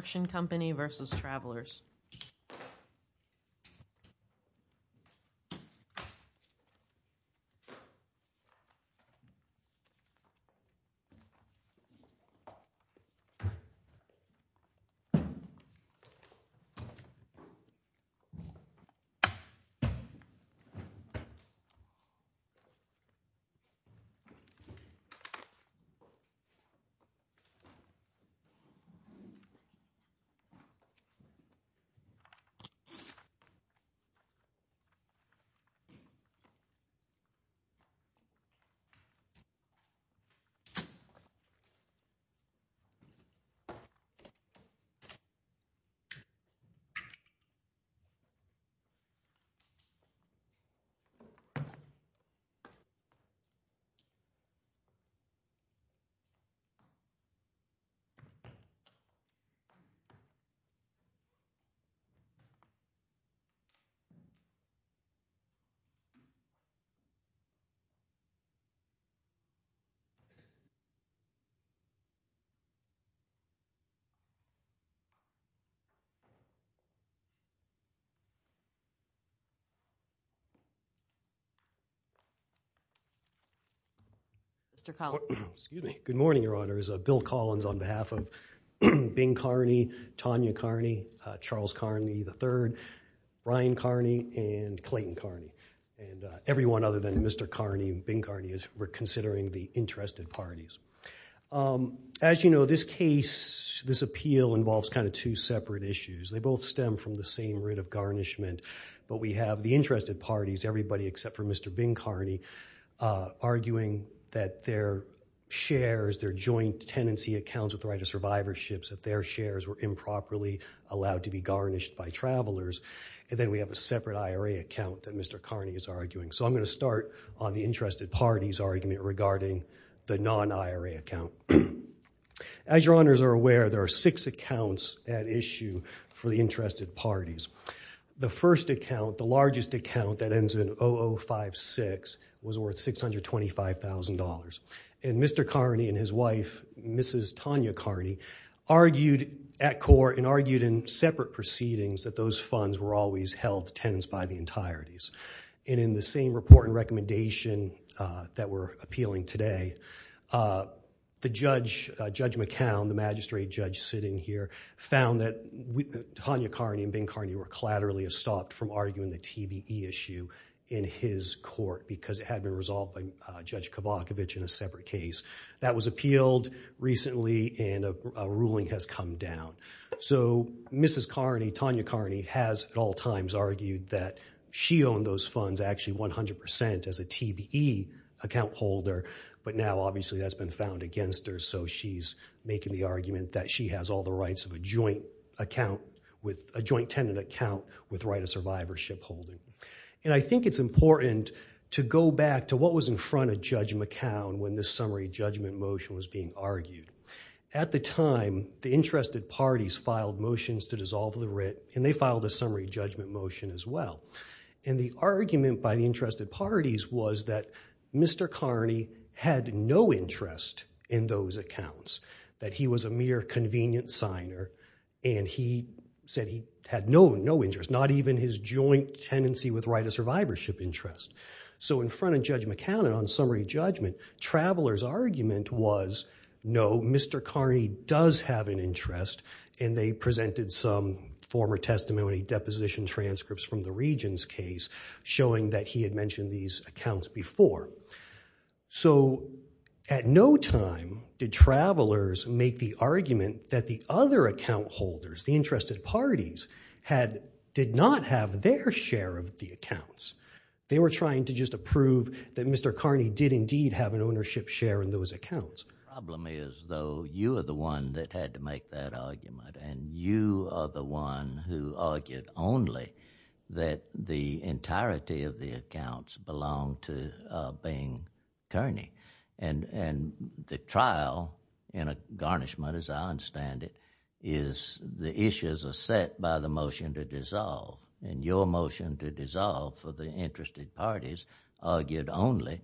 Construction Co, LLC v. Travelers Construction Co, LLC v. Travelers Mr. Collins, excuse me. Good morning Your Honors. Bill Collins, on behalf of Bing Carney, Tonya Carney, Charles Carney III, Ryan Carney, and Clayton Carney. And everyone other than Mr. Carney and Bing Carney, we're considering the interested parties. As you know, this case, this appeal involves kind of two separate issues. They both stem from the same root of garnishment, but we have the interested parties, everybody except for Mr. Bing Carney, arguing that their shares, their joint tenancy accounts with the right survivor ships, that their shares were improperly allowed to be garnished by travelers. And then we have a separate IRA account that Mr. Carney is arguing. So I'm going to start on the interested parties argument regarding the non-IRA account. As Your Honors are aware, there are six accounts at issue for the interested parties. The first account, the largest account that ends in 0056, was worth $625,000. And Mr. Carney and his wife, Mrs. Tonya Carney, argued at court and argued in separate proceedings that those funds were always held tenants by the entireties. And in the same report and recommendation that we're appealing today, the Judge McCown, the magistrate judge sitting here, found that Tonya Carney and Bing Carney were collaterally stopped from arguing the TBE issue in his court because it had been resolved by Judge Kavakovich in a separate case. That was appealed recently and a ruling has come down. So Mrs. Carney, Tonya Carney, has at all times argued that she owned those funds actually 100% as a TBE account holder, but now obviously that's been found against her, so she's making the argument that she has all the rights of a joint account with a joint tenant account with right of survivorship holding. And I think it's important to go back to what was in front of Judge McCown when this summary judgment motion was being argued. At the time, the interested parties filed motions to dissolve the writ and they filed a summary judgment motion as well. And the argument by the interested parties was that Mr. Carney had no interest in those accounts, that he was a mere convenient signer and he said he had no interest, not even his joint tenancy with right of survivorship interest. So in front of Judge McCown on summary judgment, Traveler's argument was no, Mr. Carney does have an interest and they presented some former testimony, deposition transcripts from the Regions case showing that he had mentioned these accounts before. So at no time did Travelers make the argument that the other account holders, the interested parties, did not have their share of the accounts. They were trying to just approve that Mr. Carney did indeed have an ownership share in those accounts. The problem is though, you are the one that had to make that argument and you are the one who argued only that the entirety of the accounts belonged to Bing Kearney. And the garnishment, as I understand it, is the issues are set by the motion to dissolve and your motion to dissolve for the interested parties argued only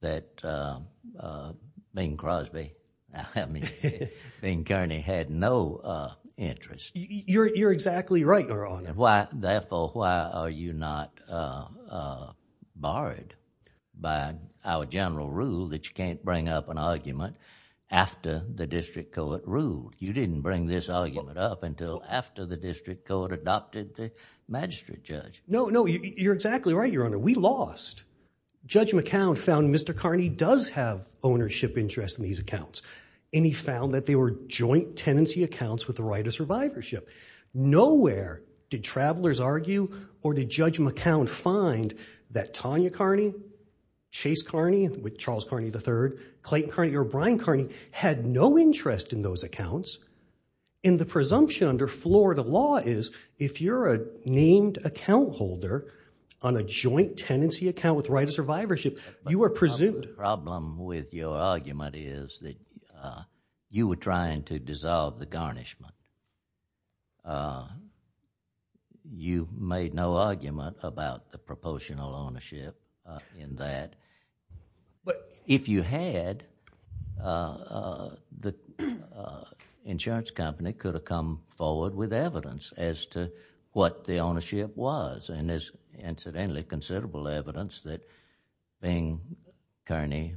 that Bing Kearney had no interest. You're exactly right, Your Honor. Therefore, why are you not barred by our general rule that you can't bring up an argument after the district court ruled? You didn't bring this argument up until after the district court adopted the magistrate judge. No, no, you're exactly right, Your Honor. We lost. Judge McCown found Mr. Carney does have ownership interest in these accounts and he found that they were joint tenancy accounts with the right of survivorship. Nowhere did Travelers argue or did Judge McCown find that Tonya Kearney, Chase Kearney, Charles Kearney III, Clayton Kearney or Brian Kearney had no interest in those accounts. And the presumption under Florida law is if you're a named account holder on a joint tenancy account with right of survivorship, you are presumed... The problem with your argument is that you were trying to dissolve the garnishment. You made no argument about the proportional ownership in that. If you had, the insurance company could have come forward with evidence as to what the ownership was and there's incidentally considerable evidence that Bing Kearney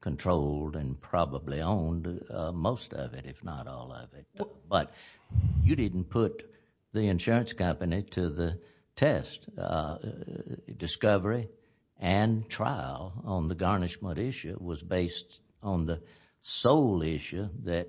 controlled and probably owned most of it, if not all of it. But you didn't put the insurance company to the test. Discovery and trial on the garnishment issue was based on the sole issue that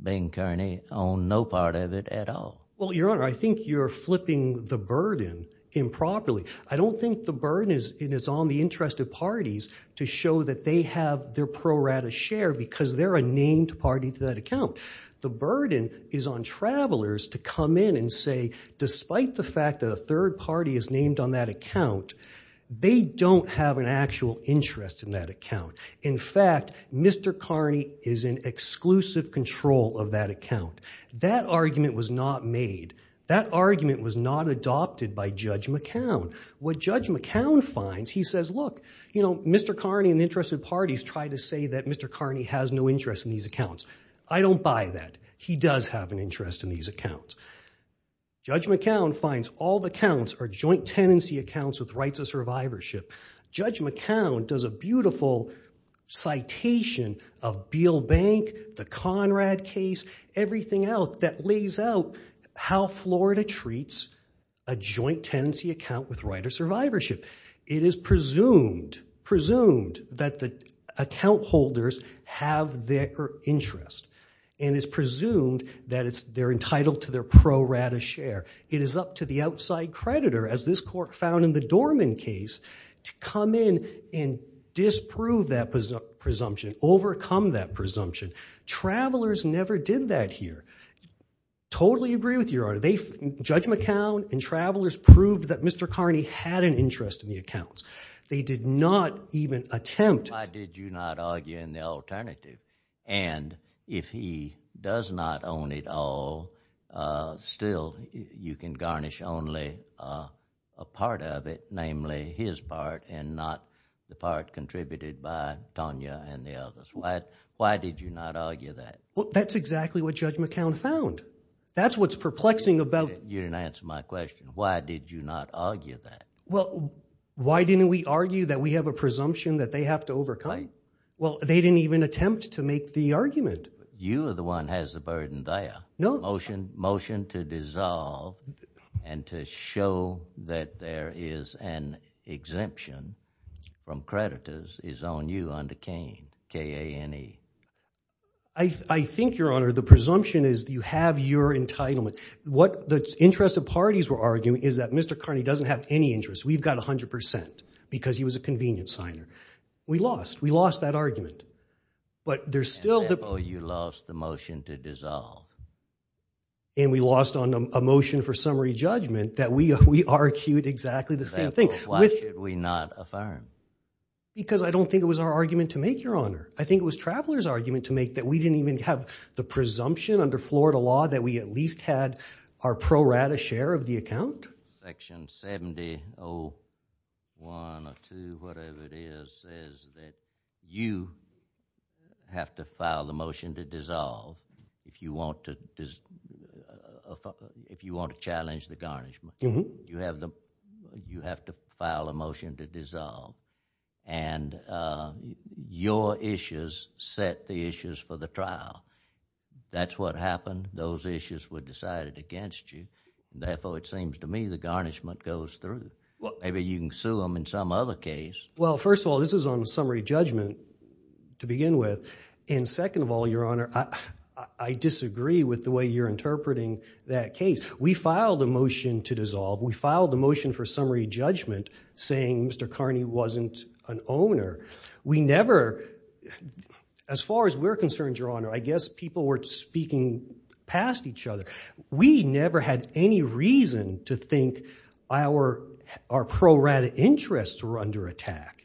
Bing Kearney owned no part of it at all. Well, Your Honor, I think you're flipping the burden improperly. I don't think the burden is on the interest of parties to show that they have their pro rata share because they're a named party to that account. The burden is on travelers to come in and say, despite the fact that a third party is named on that account, they don't have an actual interest in that account. In fact, Mr. Kearney is in exclusive control of that account. That argument was not made. That argument was not adopted by Judge McCown. What Judge McCown finds, he says, look, Mr. Kearney and the interested parties try to say that Mr. Kearney has no interest in these accounts. I don't buy that. He does have an interest in these accounts. Judge McCown finds all the accounts are joint tenancy accounts with rights of survivorship. Judge McCown does a beautiful citation of Beale Bank, the Conrad case, everything else that lays out how Florida treats a joint tenancy account with right of survivorship. It is presumed that the account holders have their interest, and it's presumed that they're entitled to their pro rata share. It is up to the outside creditor, as this court found in the Dorman case, to come in and disprove that presumption, overcome that presumption. Travelers never did that here. Totally agree with you, Your Honor. Judge McCown and travelers proved that they did not even attempt. Why did you not argue in the alternative? And if he does not own it all, still, you can garnish only a part of it, namely his part and not the part contributed by Tonya and the others. Why did you not argue that? Well, that's exactly what Judge McCown found. That's what's perplexing about... You didn't answer my question. Why did you not argue that? Well, why didn't we argue that we have a presumption that they have to overcome? Well, they didn't even attempt to make the argument. You are the one has the burden there. Motion to dissolve and to show that there is an exemption from creditors is on you under Kane, K-A-N-E. I think, Your Honor, the presumption is you have your entitlement. The interest of parties were arguing is that Mr. Carney doesn't have any interest. We've got 100% because he was a convenience signer. We lost. We lost that argument. But there's still the... And therefore, you lost the motion to dissolve. And we lost on a motion for summary judgment that we argued exactly the same thing. And therefore, why should we not affirm? Because I don't think it was our argument to make, Your Honor. I think it was travelers' argument to make that we didn't even have the presumption under Florida law that we at least had our pro rata share of the account. Section 70.01 or 2, whatever it is, says that you have to file a motion to dissolve if you want to challenge the garnishment. You have to file a motion to dissolve. And your issues set the issues for the trial. That's what happened. Those issues were decided against you. Therefore, it seems to me the garnishment goes through. Maybe you can sue them in some other case. Well, first of all, this is on summary judgment to begin with. And second of all, Your Honor, I disagree with the way you're interpreting that case. We filed a motion to dissolve. We filed a motion for summary judgment saying Mr. Carney wasn't an owner. We never... As far as we're concerned, Your Honor, I guess people were speaking past each other. We never had any reason to think our pro rata interests were under attack.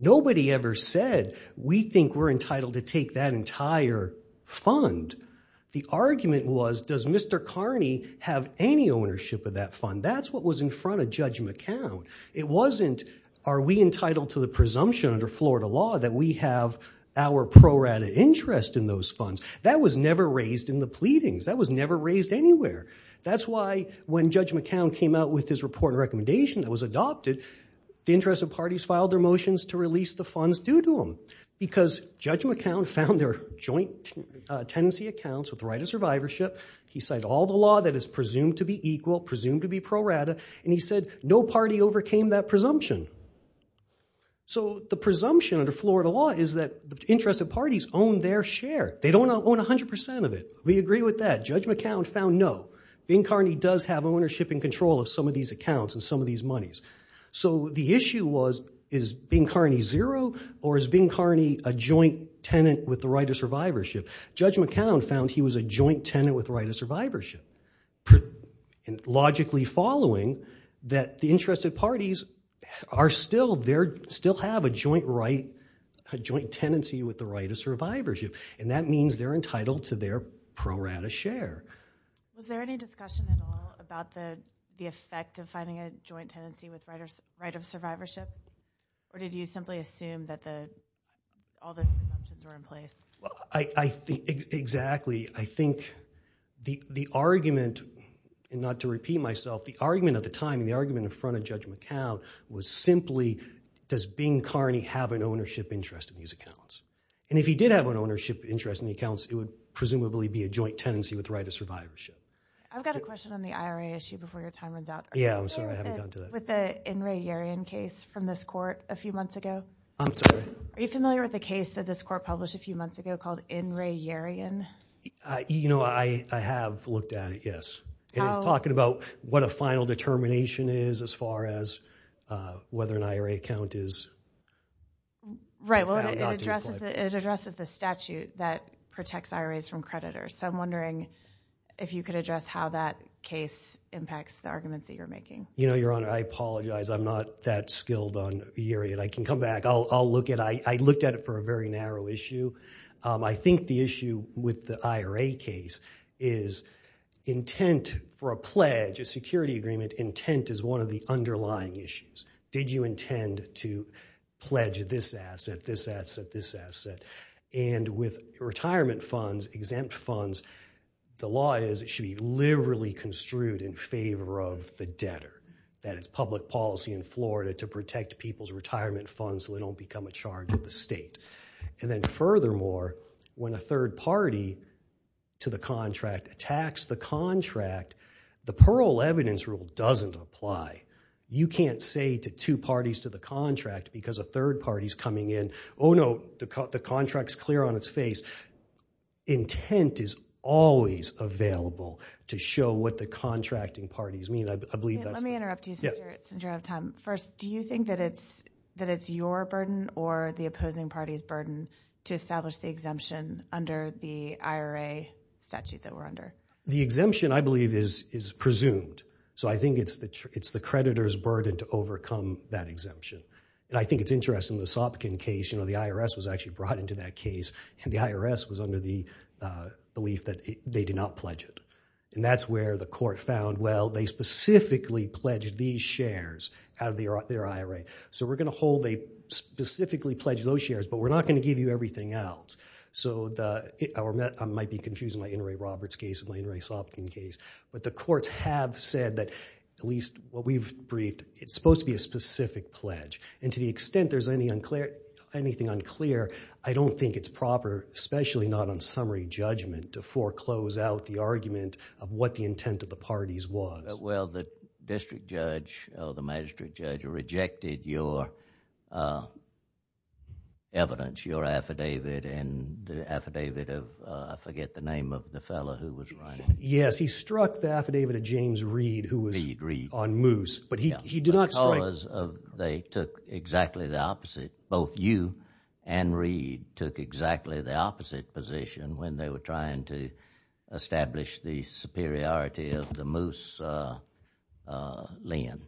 Nobody ever said we think we're entitled to take that entire fund. The Mr. Carney have any ownership of that fund. That's what was in front of Judge McCown. It wasn't are we entitled to the presumption under Florida law that we have our pro rata interest in those funds. That was never raised in the pleadings. That was never raised anywhere. That's why when Judge McCown came out with his report and recommendation that was adopted, the interested parties filed their motions to release the funds due to him. Because Judge McCown found their joint tenancy accounts with the right of survivorship. He said all the law that is presumed to be equal, presumed to be pro rata, and he said no party overcame that presumption. So the presumption under Florida law is that the interested parties own their share. They don't own 100% of it. We agree with that. Judge McCown found no. Bing Carney does have ownership and control of some of these accounts and some of these with the right of survivorship. Judge McCown found he was a joint tenant with the right of survivorship. Logically following that the interested parties are still there, still have a joint right, a joint tenancy with the right of survivorship. And that means they're entitled to their pro rata share. Was there any discussion at all about the effect of finding a joint tenancy with the right of survivorship? Or did you simply assume that all the presumptions were in place? Exactly. I think the argument, and not to repeat myself, the argument at the time, the argument in front of Judge McCown was simply does Bing Carney have an ownership interest in these accounts? And if he did have an ownership interest in the accounts, it would presumably be a joint tenancy with the right of survivorship. I've got a question on the IRA issue before your time runs out. Are you aware of the In Are you familiar with the case that this court published a few months ago called In Re Yerian? You know, I have looked at it, yes. It is talking about what a final determination is as far as whether an IRA account is. Right, well, it addresses the statute that protects IRAs from creditors. So I'm wondering if you could address how that case impacts the arguments that you're making. You know, Your Honor, I apologize. I'm not that skilled on Yerian. I can come back. I looked at it for a very narrow issue. I think the issue with the IRA case is intent for a pledge, a security agreement, intent is one of the underlying issues. Did you intend to pledge this asset, this asset, this asset? And with retirement funds, exempt funds, the law is it should be liberally construed in Florida to protect people's retirement funds so they don't become a charge of the state. And then furthermore, when a third party to the contract attacks the contract, the parole evidence rule doesn't apply. You can't say to two parties to the contract because a third party's coming in, oh no, the contract's clear on its face. Intent is always available to show what the contracting parties mean. Let me interrupt you since you don't have time. First, do you think that it's your burden or the opposing party's burden to establish the exemption under the IRA statute that we're under? The exemption, I believe, is presumed. So I think it's the creditor's burden to overcome that exemption. And I think it's interesting the Sopkin case, you know, the IRS was actually brought into that case and the IRS was under the belief that they did not pledge it. And that's where the court found, well, they specifically pledged these shares out of their IRA. So we're going to hold they specifically pledged those shares, but we're not going to give you everything else. So I might be confusing my Inouye Roberts case with my Inouye Sopkin case, but the courts have said that at least what we've briefed, it's supposed to be a specific pledge. And to the extent there's anything unclear, I don't think it's proper, especially not on summary judgment, to foreclose out the argument of what the intent of the parties was. Well, the district judge or the magistrate judge rejected your evidence, your affidavit and the affidavit of, I forget the name of the fellow who was running. Yes, he struck the affidavit of James Reed who was on Moose. The cause of they took exactly the opposite. Both you and Reed took exactly the opposite position when they were trying to establish the superiority of the Moose lend.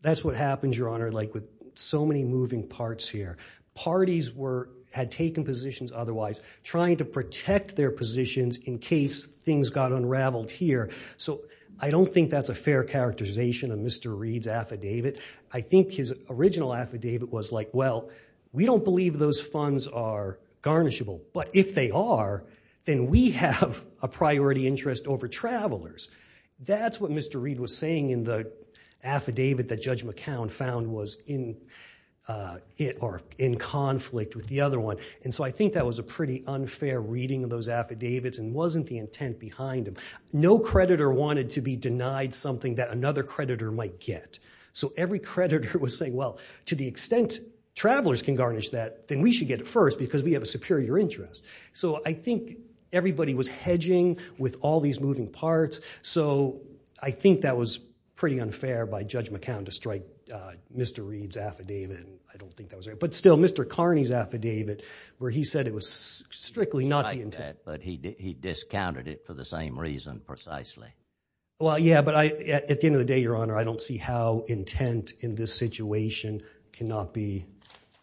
That's what happens, Your Honor, like with so many moving parts here. Parties had taken positions otherwise, trying to protect their positions in case things got unraveled here. I don't think that's a fair characterization of Mr. Reed's affidavit. I think his original affidavit was like, well, we don't believe those funds are garnishable, but if they are, then we have a priority interest over travelers. That's what Mr. Reed was saying in the affidavit that Judge McCown found was in conflict with the other one. I think that was a pretty unfair reading of those affidavits and wasn't the intent behind them. No creditor wanted to be denied something that another creditor might get. So every creditor was saying, well, to the extent travelers can garnish that, then we should get it first because we have a superior interest. So I think everybody was hedging with all these moving parts. So I think that was pretty unfair by Judge McCown to strike Mr. Reed's affidavit. But still, Mr. Carney's affidavit where he said it was strictly not the intent. But he discounted it for the same reason precisely. Well, yeah, but at the end of the day, Your Honor, I don't see how intent in this situation cannot be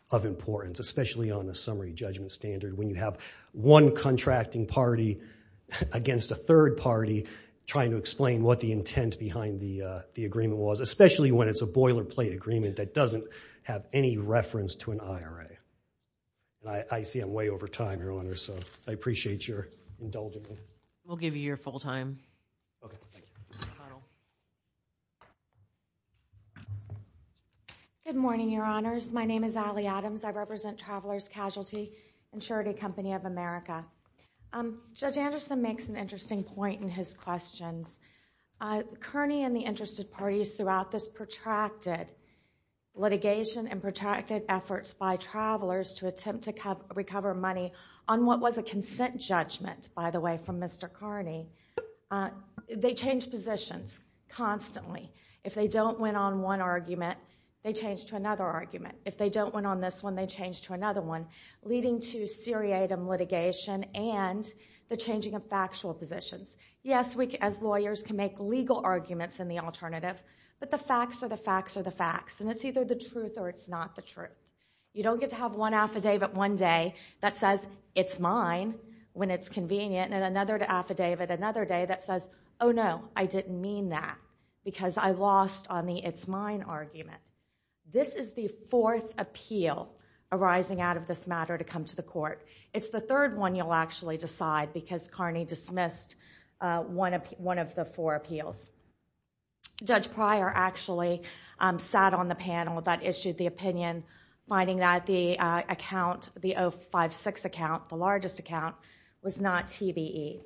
of importance, especially on a summary judgment standard when you have one contracting party against a third party trying to explain what the intent behind the agreement was, especially when it's a boilerplate agreement that doesn't have any reference to an IRA. I see I'm way over time, Your Honor, so I appreciate your indulgence. We'll give you your full time. Good morning, Your Honors. My name is Ali Adams. I represent Travelers Casualty Insurity Company of America. Judge Anderson makes an interesting point in his questions. Kearney and the interested parties throughout this protracted litigation and protracted efforts by travelers to attempt to recover money on what was a consent judgment, by the way, from Mr. Kearney, they change positions constantly. If they don't win on one argument, they change to another argument. If they don't win on this one, they change to another one, leading to seriatim litigation and the changing of factual positions. Yes, we as lawyers can make legal arguments in the alternative, but the facts are the facts are the facts, and it's either the truth or it's not the truth. You don't get to have one affidavit one day that says it's mine when it's convenient and another affidavit another day that says, oh, no, I didn't mean that because I lost on the it's mine argument. This is the fourth appeal arising out of this matter to come to the court. It's the third one you'll actually decide because Kearney dismissed one of the four appeals. Judge Pryor actually sat on the panel that issued the opinion finding that the account, the 056 account, the largest account, was not TBE.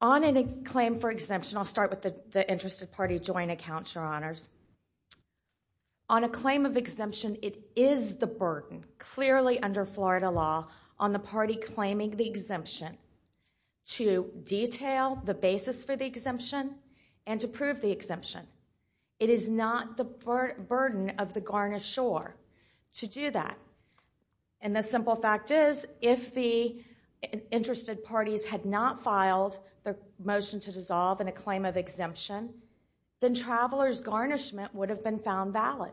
On a claim for exemption, I'll start with the interested party joint account, your honors. On a claim of exemption, it is the burden, clearly under Florida law, on the party claiming the exemption to detail the basis for the exemption and to prove the exemption. It is not the burden of the garnisher to do that, and the simple fact is if the interested parties had not filed the motion to dissolve in a claim of exemption, then travelers' garnishment would have been found valid.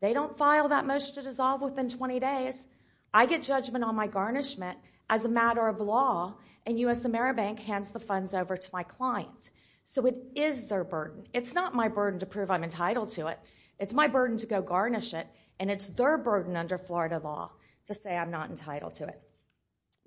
They don't file that motion to dissolve within 20 days. I get judgment on my garnishment as a matter of law, and U.S. AmeriBank hands the funds over to my client. So it is their burden. It's not my burden to prove I'm entitled to it. It's my burden to go garnish it, and it's their burden under Florida law to say I'm not entitled to it.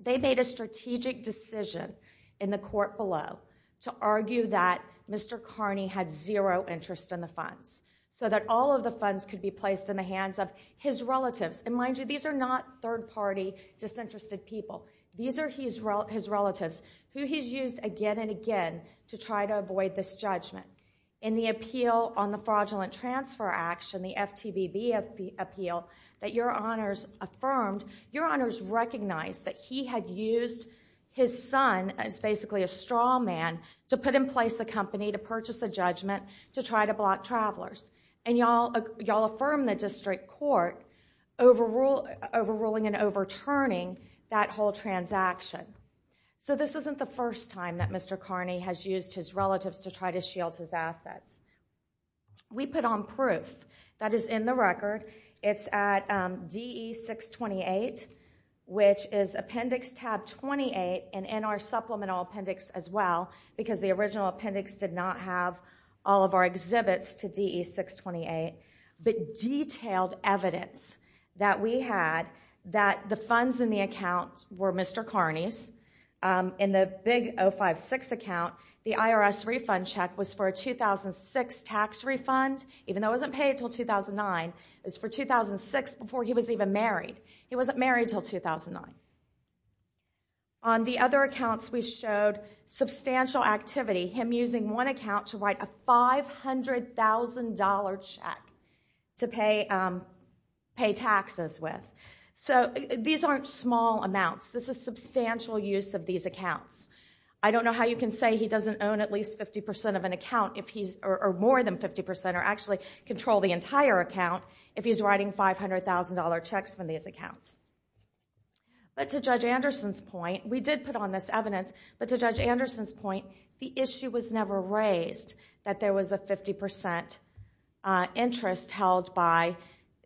They made a strategic decision in the court below to argue that Mr. Carney had zero interest in the funds so that all of the funds could be placed in the hands of his relatives. And mind you, these are not third-party disinterested people. These are his relatives, who he's used again and again to try to avoid this judgment. In the appeal on the fraudulent transfer action, the FTVB appeal that your honors affirmed, your honors recognized that he had used his son as basically a straw man to put in place a company to purchase a judgment to try to block travelers. And y'all affirmed the district court overruling and overturning that whole transaction. So this isn't the first time that Mr. Carney has used his relatives to appendix tab 28 and in our supplemental appendix as well, because the original appendix did not have all of our exhibits to DE 628, but detailed evidence that we had that the funds in the account were Mr. Carney's. In the big 056 account, the IRS refund check was for a 2006 tax refund, even though it wasn't paid until 2009. It was for 2006 before he was even married. He wasn't married until 2009. On the other accounts, we showed substantial activity, him using one account to write a $500,000 check to pay taxes with. So these aren't small amounts. This is substantial use of these accounts. I don't know how you can say he doesn't own at least 50% of an account, or more than 50%, or actually control the entire account if he's writing $500,000 checks from these accounts. But to Judge Anderson's point, we did put on this evidence, but to Judge Anderson's point, the issue was never raised that there was a 50% interest held by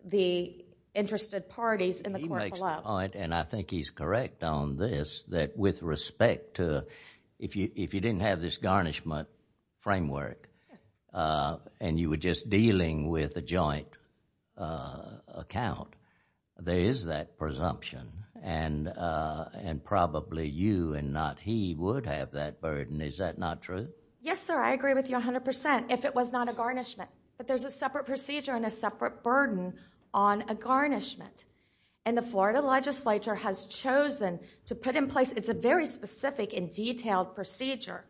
the interested parties. He makes the point, and I think he's correct on this, that with respect to if you didn't have this garnishment framework and you were just dealing with a joint account, there is that presumption. And probably you and not he would have that burden. Is that not true? Yes, sir. I agree with you 100% if it was not a garnishment. But there's a separate procedure and a separate burden on a garnishment. And the Florida legislature has chosen to put in place, it's a very specific and detailed procedure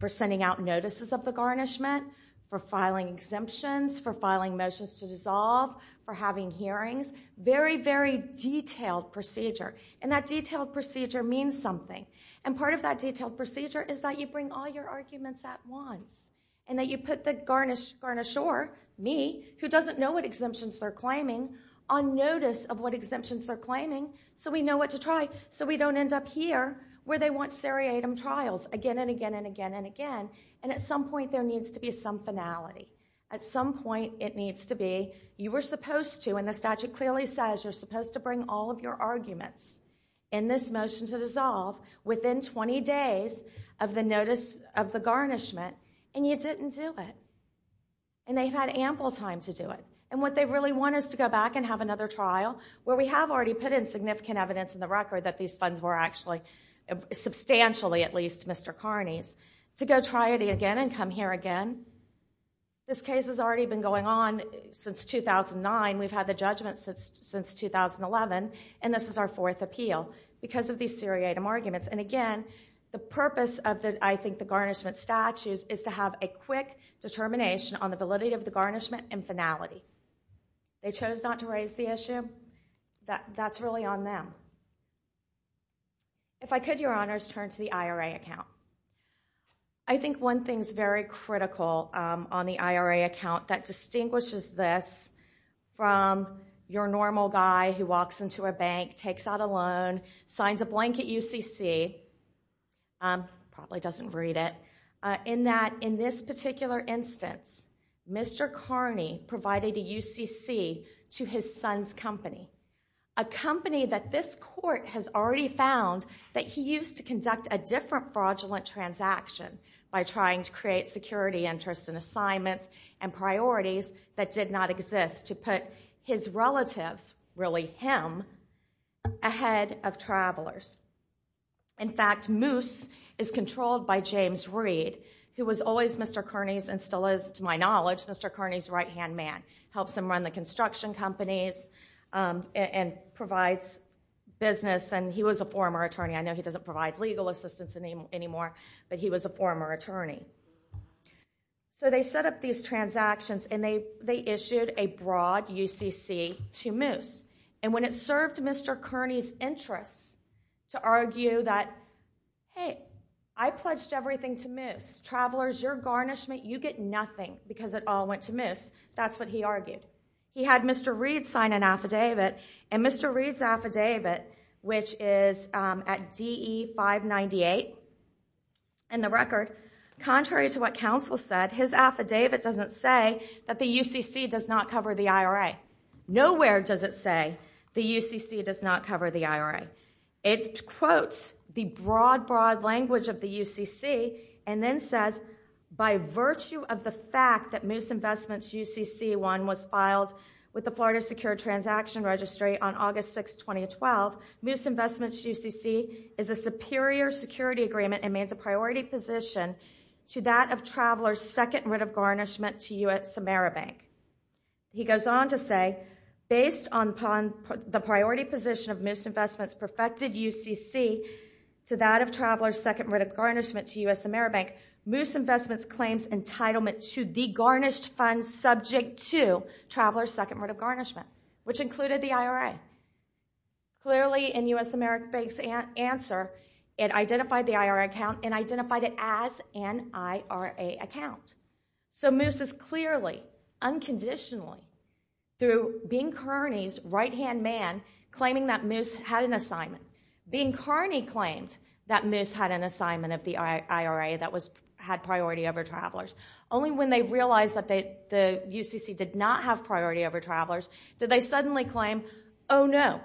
for sending out notices of the garnishment, for filing exemptions, for filing motions to dissolve, for having hearings. Very, very detailed procedure. And that detailed procedure means something. And part of that detailed procedure is that you bring all your arguments at once. And that you put the garnisher, me, who doesn't know what exemptions they're claiming, on notice of what exemptions they're claiming so we know what to try so we don't end up here where they want seriatim trials again and again and some finality. At some point it needs to be, you were supposed to and the statute clearly says you're supposed to bring all of your arguments in this motion to dissolve within 20 days of the notice of the garnishment and you didn't do it. And they've had ample time to do it. And what they really want is to go back and have another trial where we have already put in significant evidence in the record that these funds were actually, substantially at least, Mr. Carney's, to go try it again and come here again. This case has already been going on since 2009. We've had the judgment since 2011. And this is our fourth appeal because of these seriatim arguments. And again, the purpose of the, I think, the garnishment statutes is to have a quick determination on the validity of the garnishment and finality. They chose not to raise the issue. That's really on them. If I could, your honors, turn to the IRA account. I think one thing's very critical on the IRA account that distinguishes this from your normal guy who walks into a bank, takes out a loan, signs a blank at UCC, probably doesn't read it, in that in this particular instance, Mr. Carney provided a UCC to his son's company, a company that this court has already found that he used to conduct a different fraudulent transaction by trying to create security interests and assignments and priorities that did not exist to put his relatives, really him, ahead of travelers. In fact, Moose is controlled by James Reed, who was always Mr. Carney's and to my knowledge, Mr. Carney's right-hand man. Helps him run the construction companies and provides business. And he was a former attorney. I know he doesn't provide legal assistance anymore, but he was a former attorney. So they set up these transactions and they issued a broad UCC to Moose. And when it served Mr. Carney's interests to argue that, hey, I pledged everything to Moose. Travelers, your garnishment, you get nothing because it all went to Moose. That's what he argued. He had Mr. Reed sign an affidavit and Mr. Reed's affidavit, which is at DE-598, in the record, contrary to what counsel said, his affidavit doesn't say that the UCC does not cover the IRA. Nowhere does it say the UCC does not cover the IRA. It quotes the broad, broad language of the UCC and then says, by virtue of the fact that Moose Investments UCC1 was filed with the Florida Secure Transaction Registry on August 6th, 2012, Moose Investments UCC is a superior security agreement and means a priority position to that of Travelers' second writ of garnishment to you at Samara Bank. He goes on to say, based on the priority position of Moose writ of garnishment to U.S. Samara Bank, Moose Investments claims entitlement to the garnished funds subject to Travelers' second writ of garnishment, which included the IRA. Clearly, in U.S. Samara Bank's answer, it identified the IRA account and identified it as an IRA account. So Moose is clearly, unconditionally, through Bing Kearney's right-hand man, claiming that Moose had an assignment. Bing Kearney claimed that Moose had an assignment of the IRA that had priority over Travelers. Only when they realized that the UCC did not have priority over Travelers did they suddenly claim, oh no,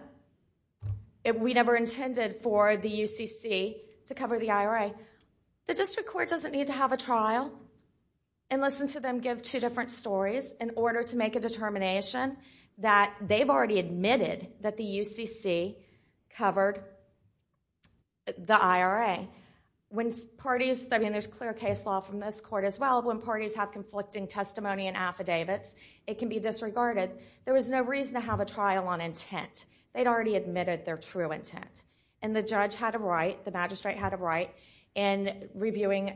we never intended for the UCC to cover the IRA. The district court doesn't need to have a trial and listen to them give two stories in order to make a determination that they've already admitted that the UCC covered the IRA. When parties, I mean there's clear case law from this court as well, when parties have conflicting testimony and affidavits, it can be disregarded. There was no reason to have a trial on intent. They'd already admitted their true intent. And the judge had a right, the magistrate had a right in reviewing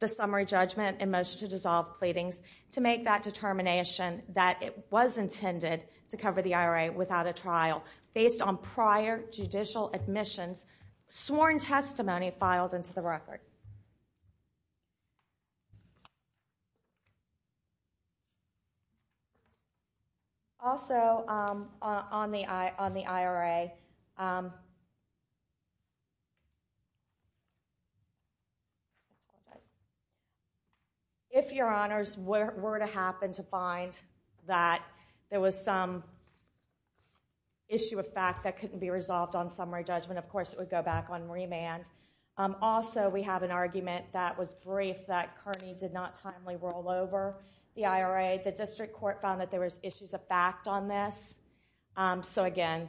the summary judgment and motion to dissolve pleadings to make that determination that it was intended to cover the IRA without a trial based on prior judicial admissions, sworn testimony filed into the record. Also, on the IRA, if your honors were to happen to find that there was some issue of fact that couldn't be resolved on summary judgment, of course it would go back on remand. Also, we have an argument that was brief that Kearney did not timely roll over the IRA. The district court found that there was issues of fact on this. So again,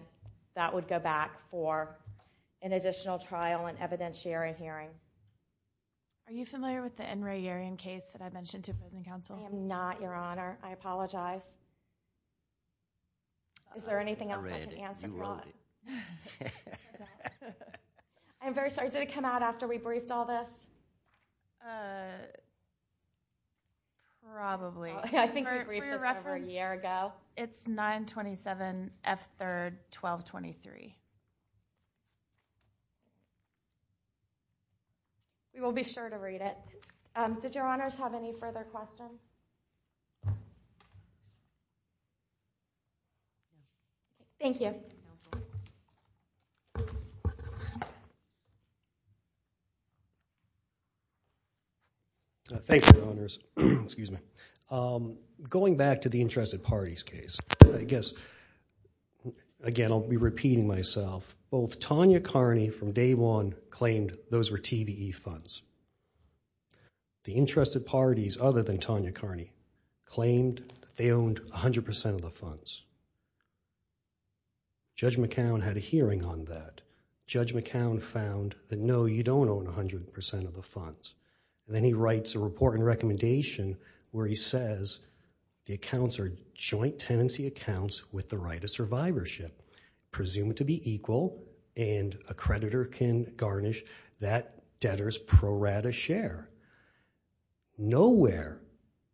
that would go back for an additional trial and evidentiary hearing. Are you familiar with the N. Ray Yerian case that I mentioned to prison counsel? I am not, your honor. I apologize. Is there anything else I can answer? I'm very sorry, did it come out after we briefed all this? Probably. I think we briefed this over a year ago. It's 927 F. 3rd 1223. We will be sure to read it. Did your honors have any further questions? Thank you. Thank you, your honors. Going back to the interested parties case, I guess, again, I'll be repeating myself. Both Tanya Kearney from day one claimed those were TBE funds. The interested parties, other than Tanya Kearney, claimed they owned 100% of the funds. Judge McCown had a hearing on that. Judge McCown found that no, you don't own 100% of the funds. Then he writes a report and recommendation where he says the accounts are joint tenancy accounts with the right of survivorship, presumed to be equal and a creditor can garnish that debtor's pro rata share. Nowhere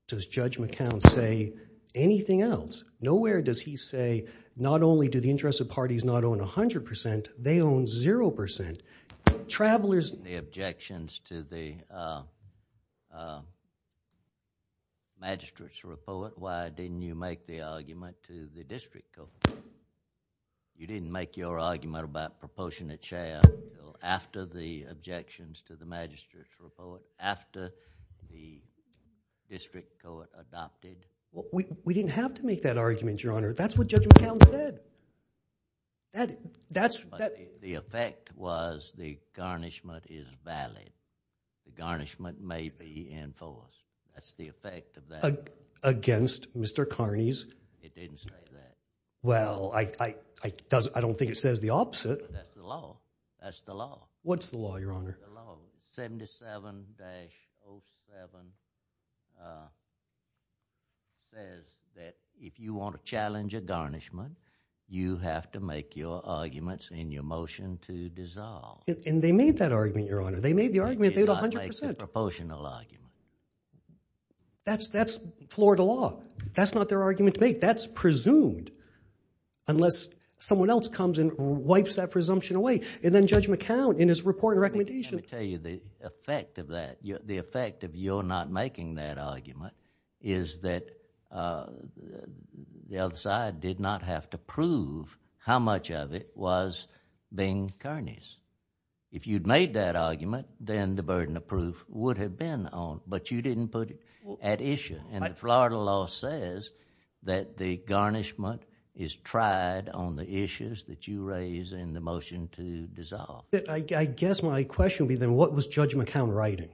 does Judge McCown say anything else. Nowhere does he say, not only do the interested parties not own 100%, they own 0%. Travelers- The objections to the magistrate's report, why didn't you make the argument to the district court? You didn't make your argument about proportionate share after the objections to the magistrate's report, after the district court adopted? We didn't have to make that argument, Your Honor. That's what Judge McCown said. The effect was the garnishment is valid. The garnishment may be enforced. That's the effect of that. Against Mr. Kearney's? It didn't say that. Well, I don't think it says the opposite. That's the law. That's the law. What's the law, Your Honor? 77-07 says that if you want to challenge a garnishment, you have to make your arguments in your motion to dissolve. And they made that argument, Your Honor. They made the argument, they had 100%. They did not make the proportional argument. That's Florida law. That's not their argument to make. That's presumed, unless someone else comes and wipes that presumption away. And then Judge McCown, in his report and recommendation... Let me tell you the effect of that, the effect of your not making that argument is that the other side did not have to prove how much of it was Bing Kearney's. If you'd made that argument, then the burden of proof would have been on, but you didn't put it at issue. And the Florida law says that the garnishment is tried on the issues that you raise in the motion to dissolve. I guess my question would be then, what was Judge McCown writing?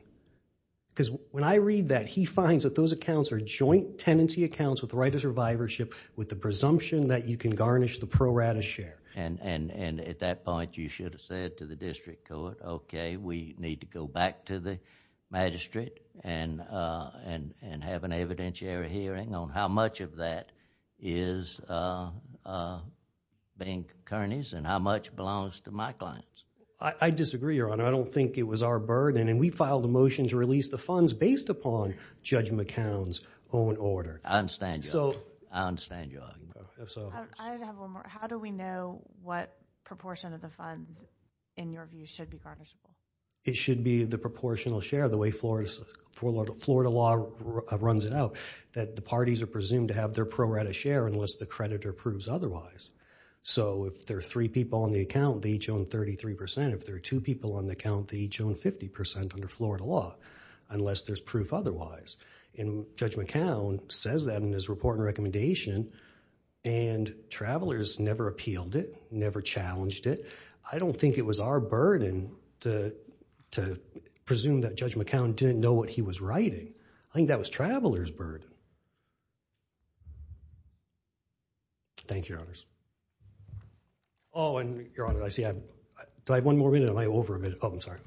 Because when I read that, he finds that those accounts are joint tenancy accounts with the right of survivorship, with the presumption that you can garnish the pro rata share. And at that point, you should have said to the district court, okay, we need to go back to the magistrate and have an evidentiary hearing on how much of that is Bing Kearney's and how much belongs to my clients. I disagree, Your Honor. I don't think it was our burden, and we filed a motion to release the funds based upon Judge McCown's own order. I understand your argument. How do we know what proportion of the funds, in your view, should be garnished? It should be the proportional share, the way Florida law runs it out, that the parties are presumed to have their pro rata share unless the creditor proves otherwise. So if there are three people on the account, they each own 33%. If there are two people on the account, they each own 50% under Florida law, unless there's proof otherwise. And Judge McCown says that in his report and recommendation, and Travelers never appealed it, never challenged it. I don't think it was our burden to presume that Judge McCown didn't know what he was writing. I think that was Travelers' burden. Thank you, Your Honors. Oh, and Your Honor, I see I have one more minute. Am I over a minute? Oh, I'm sorry.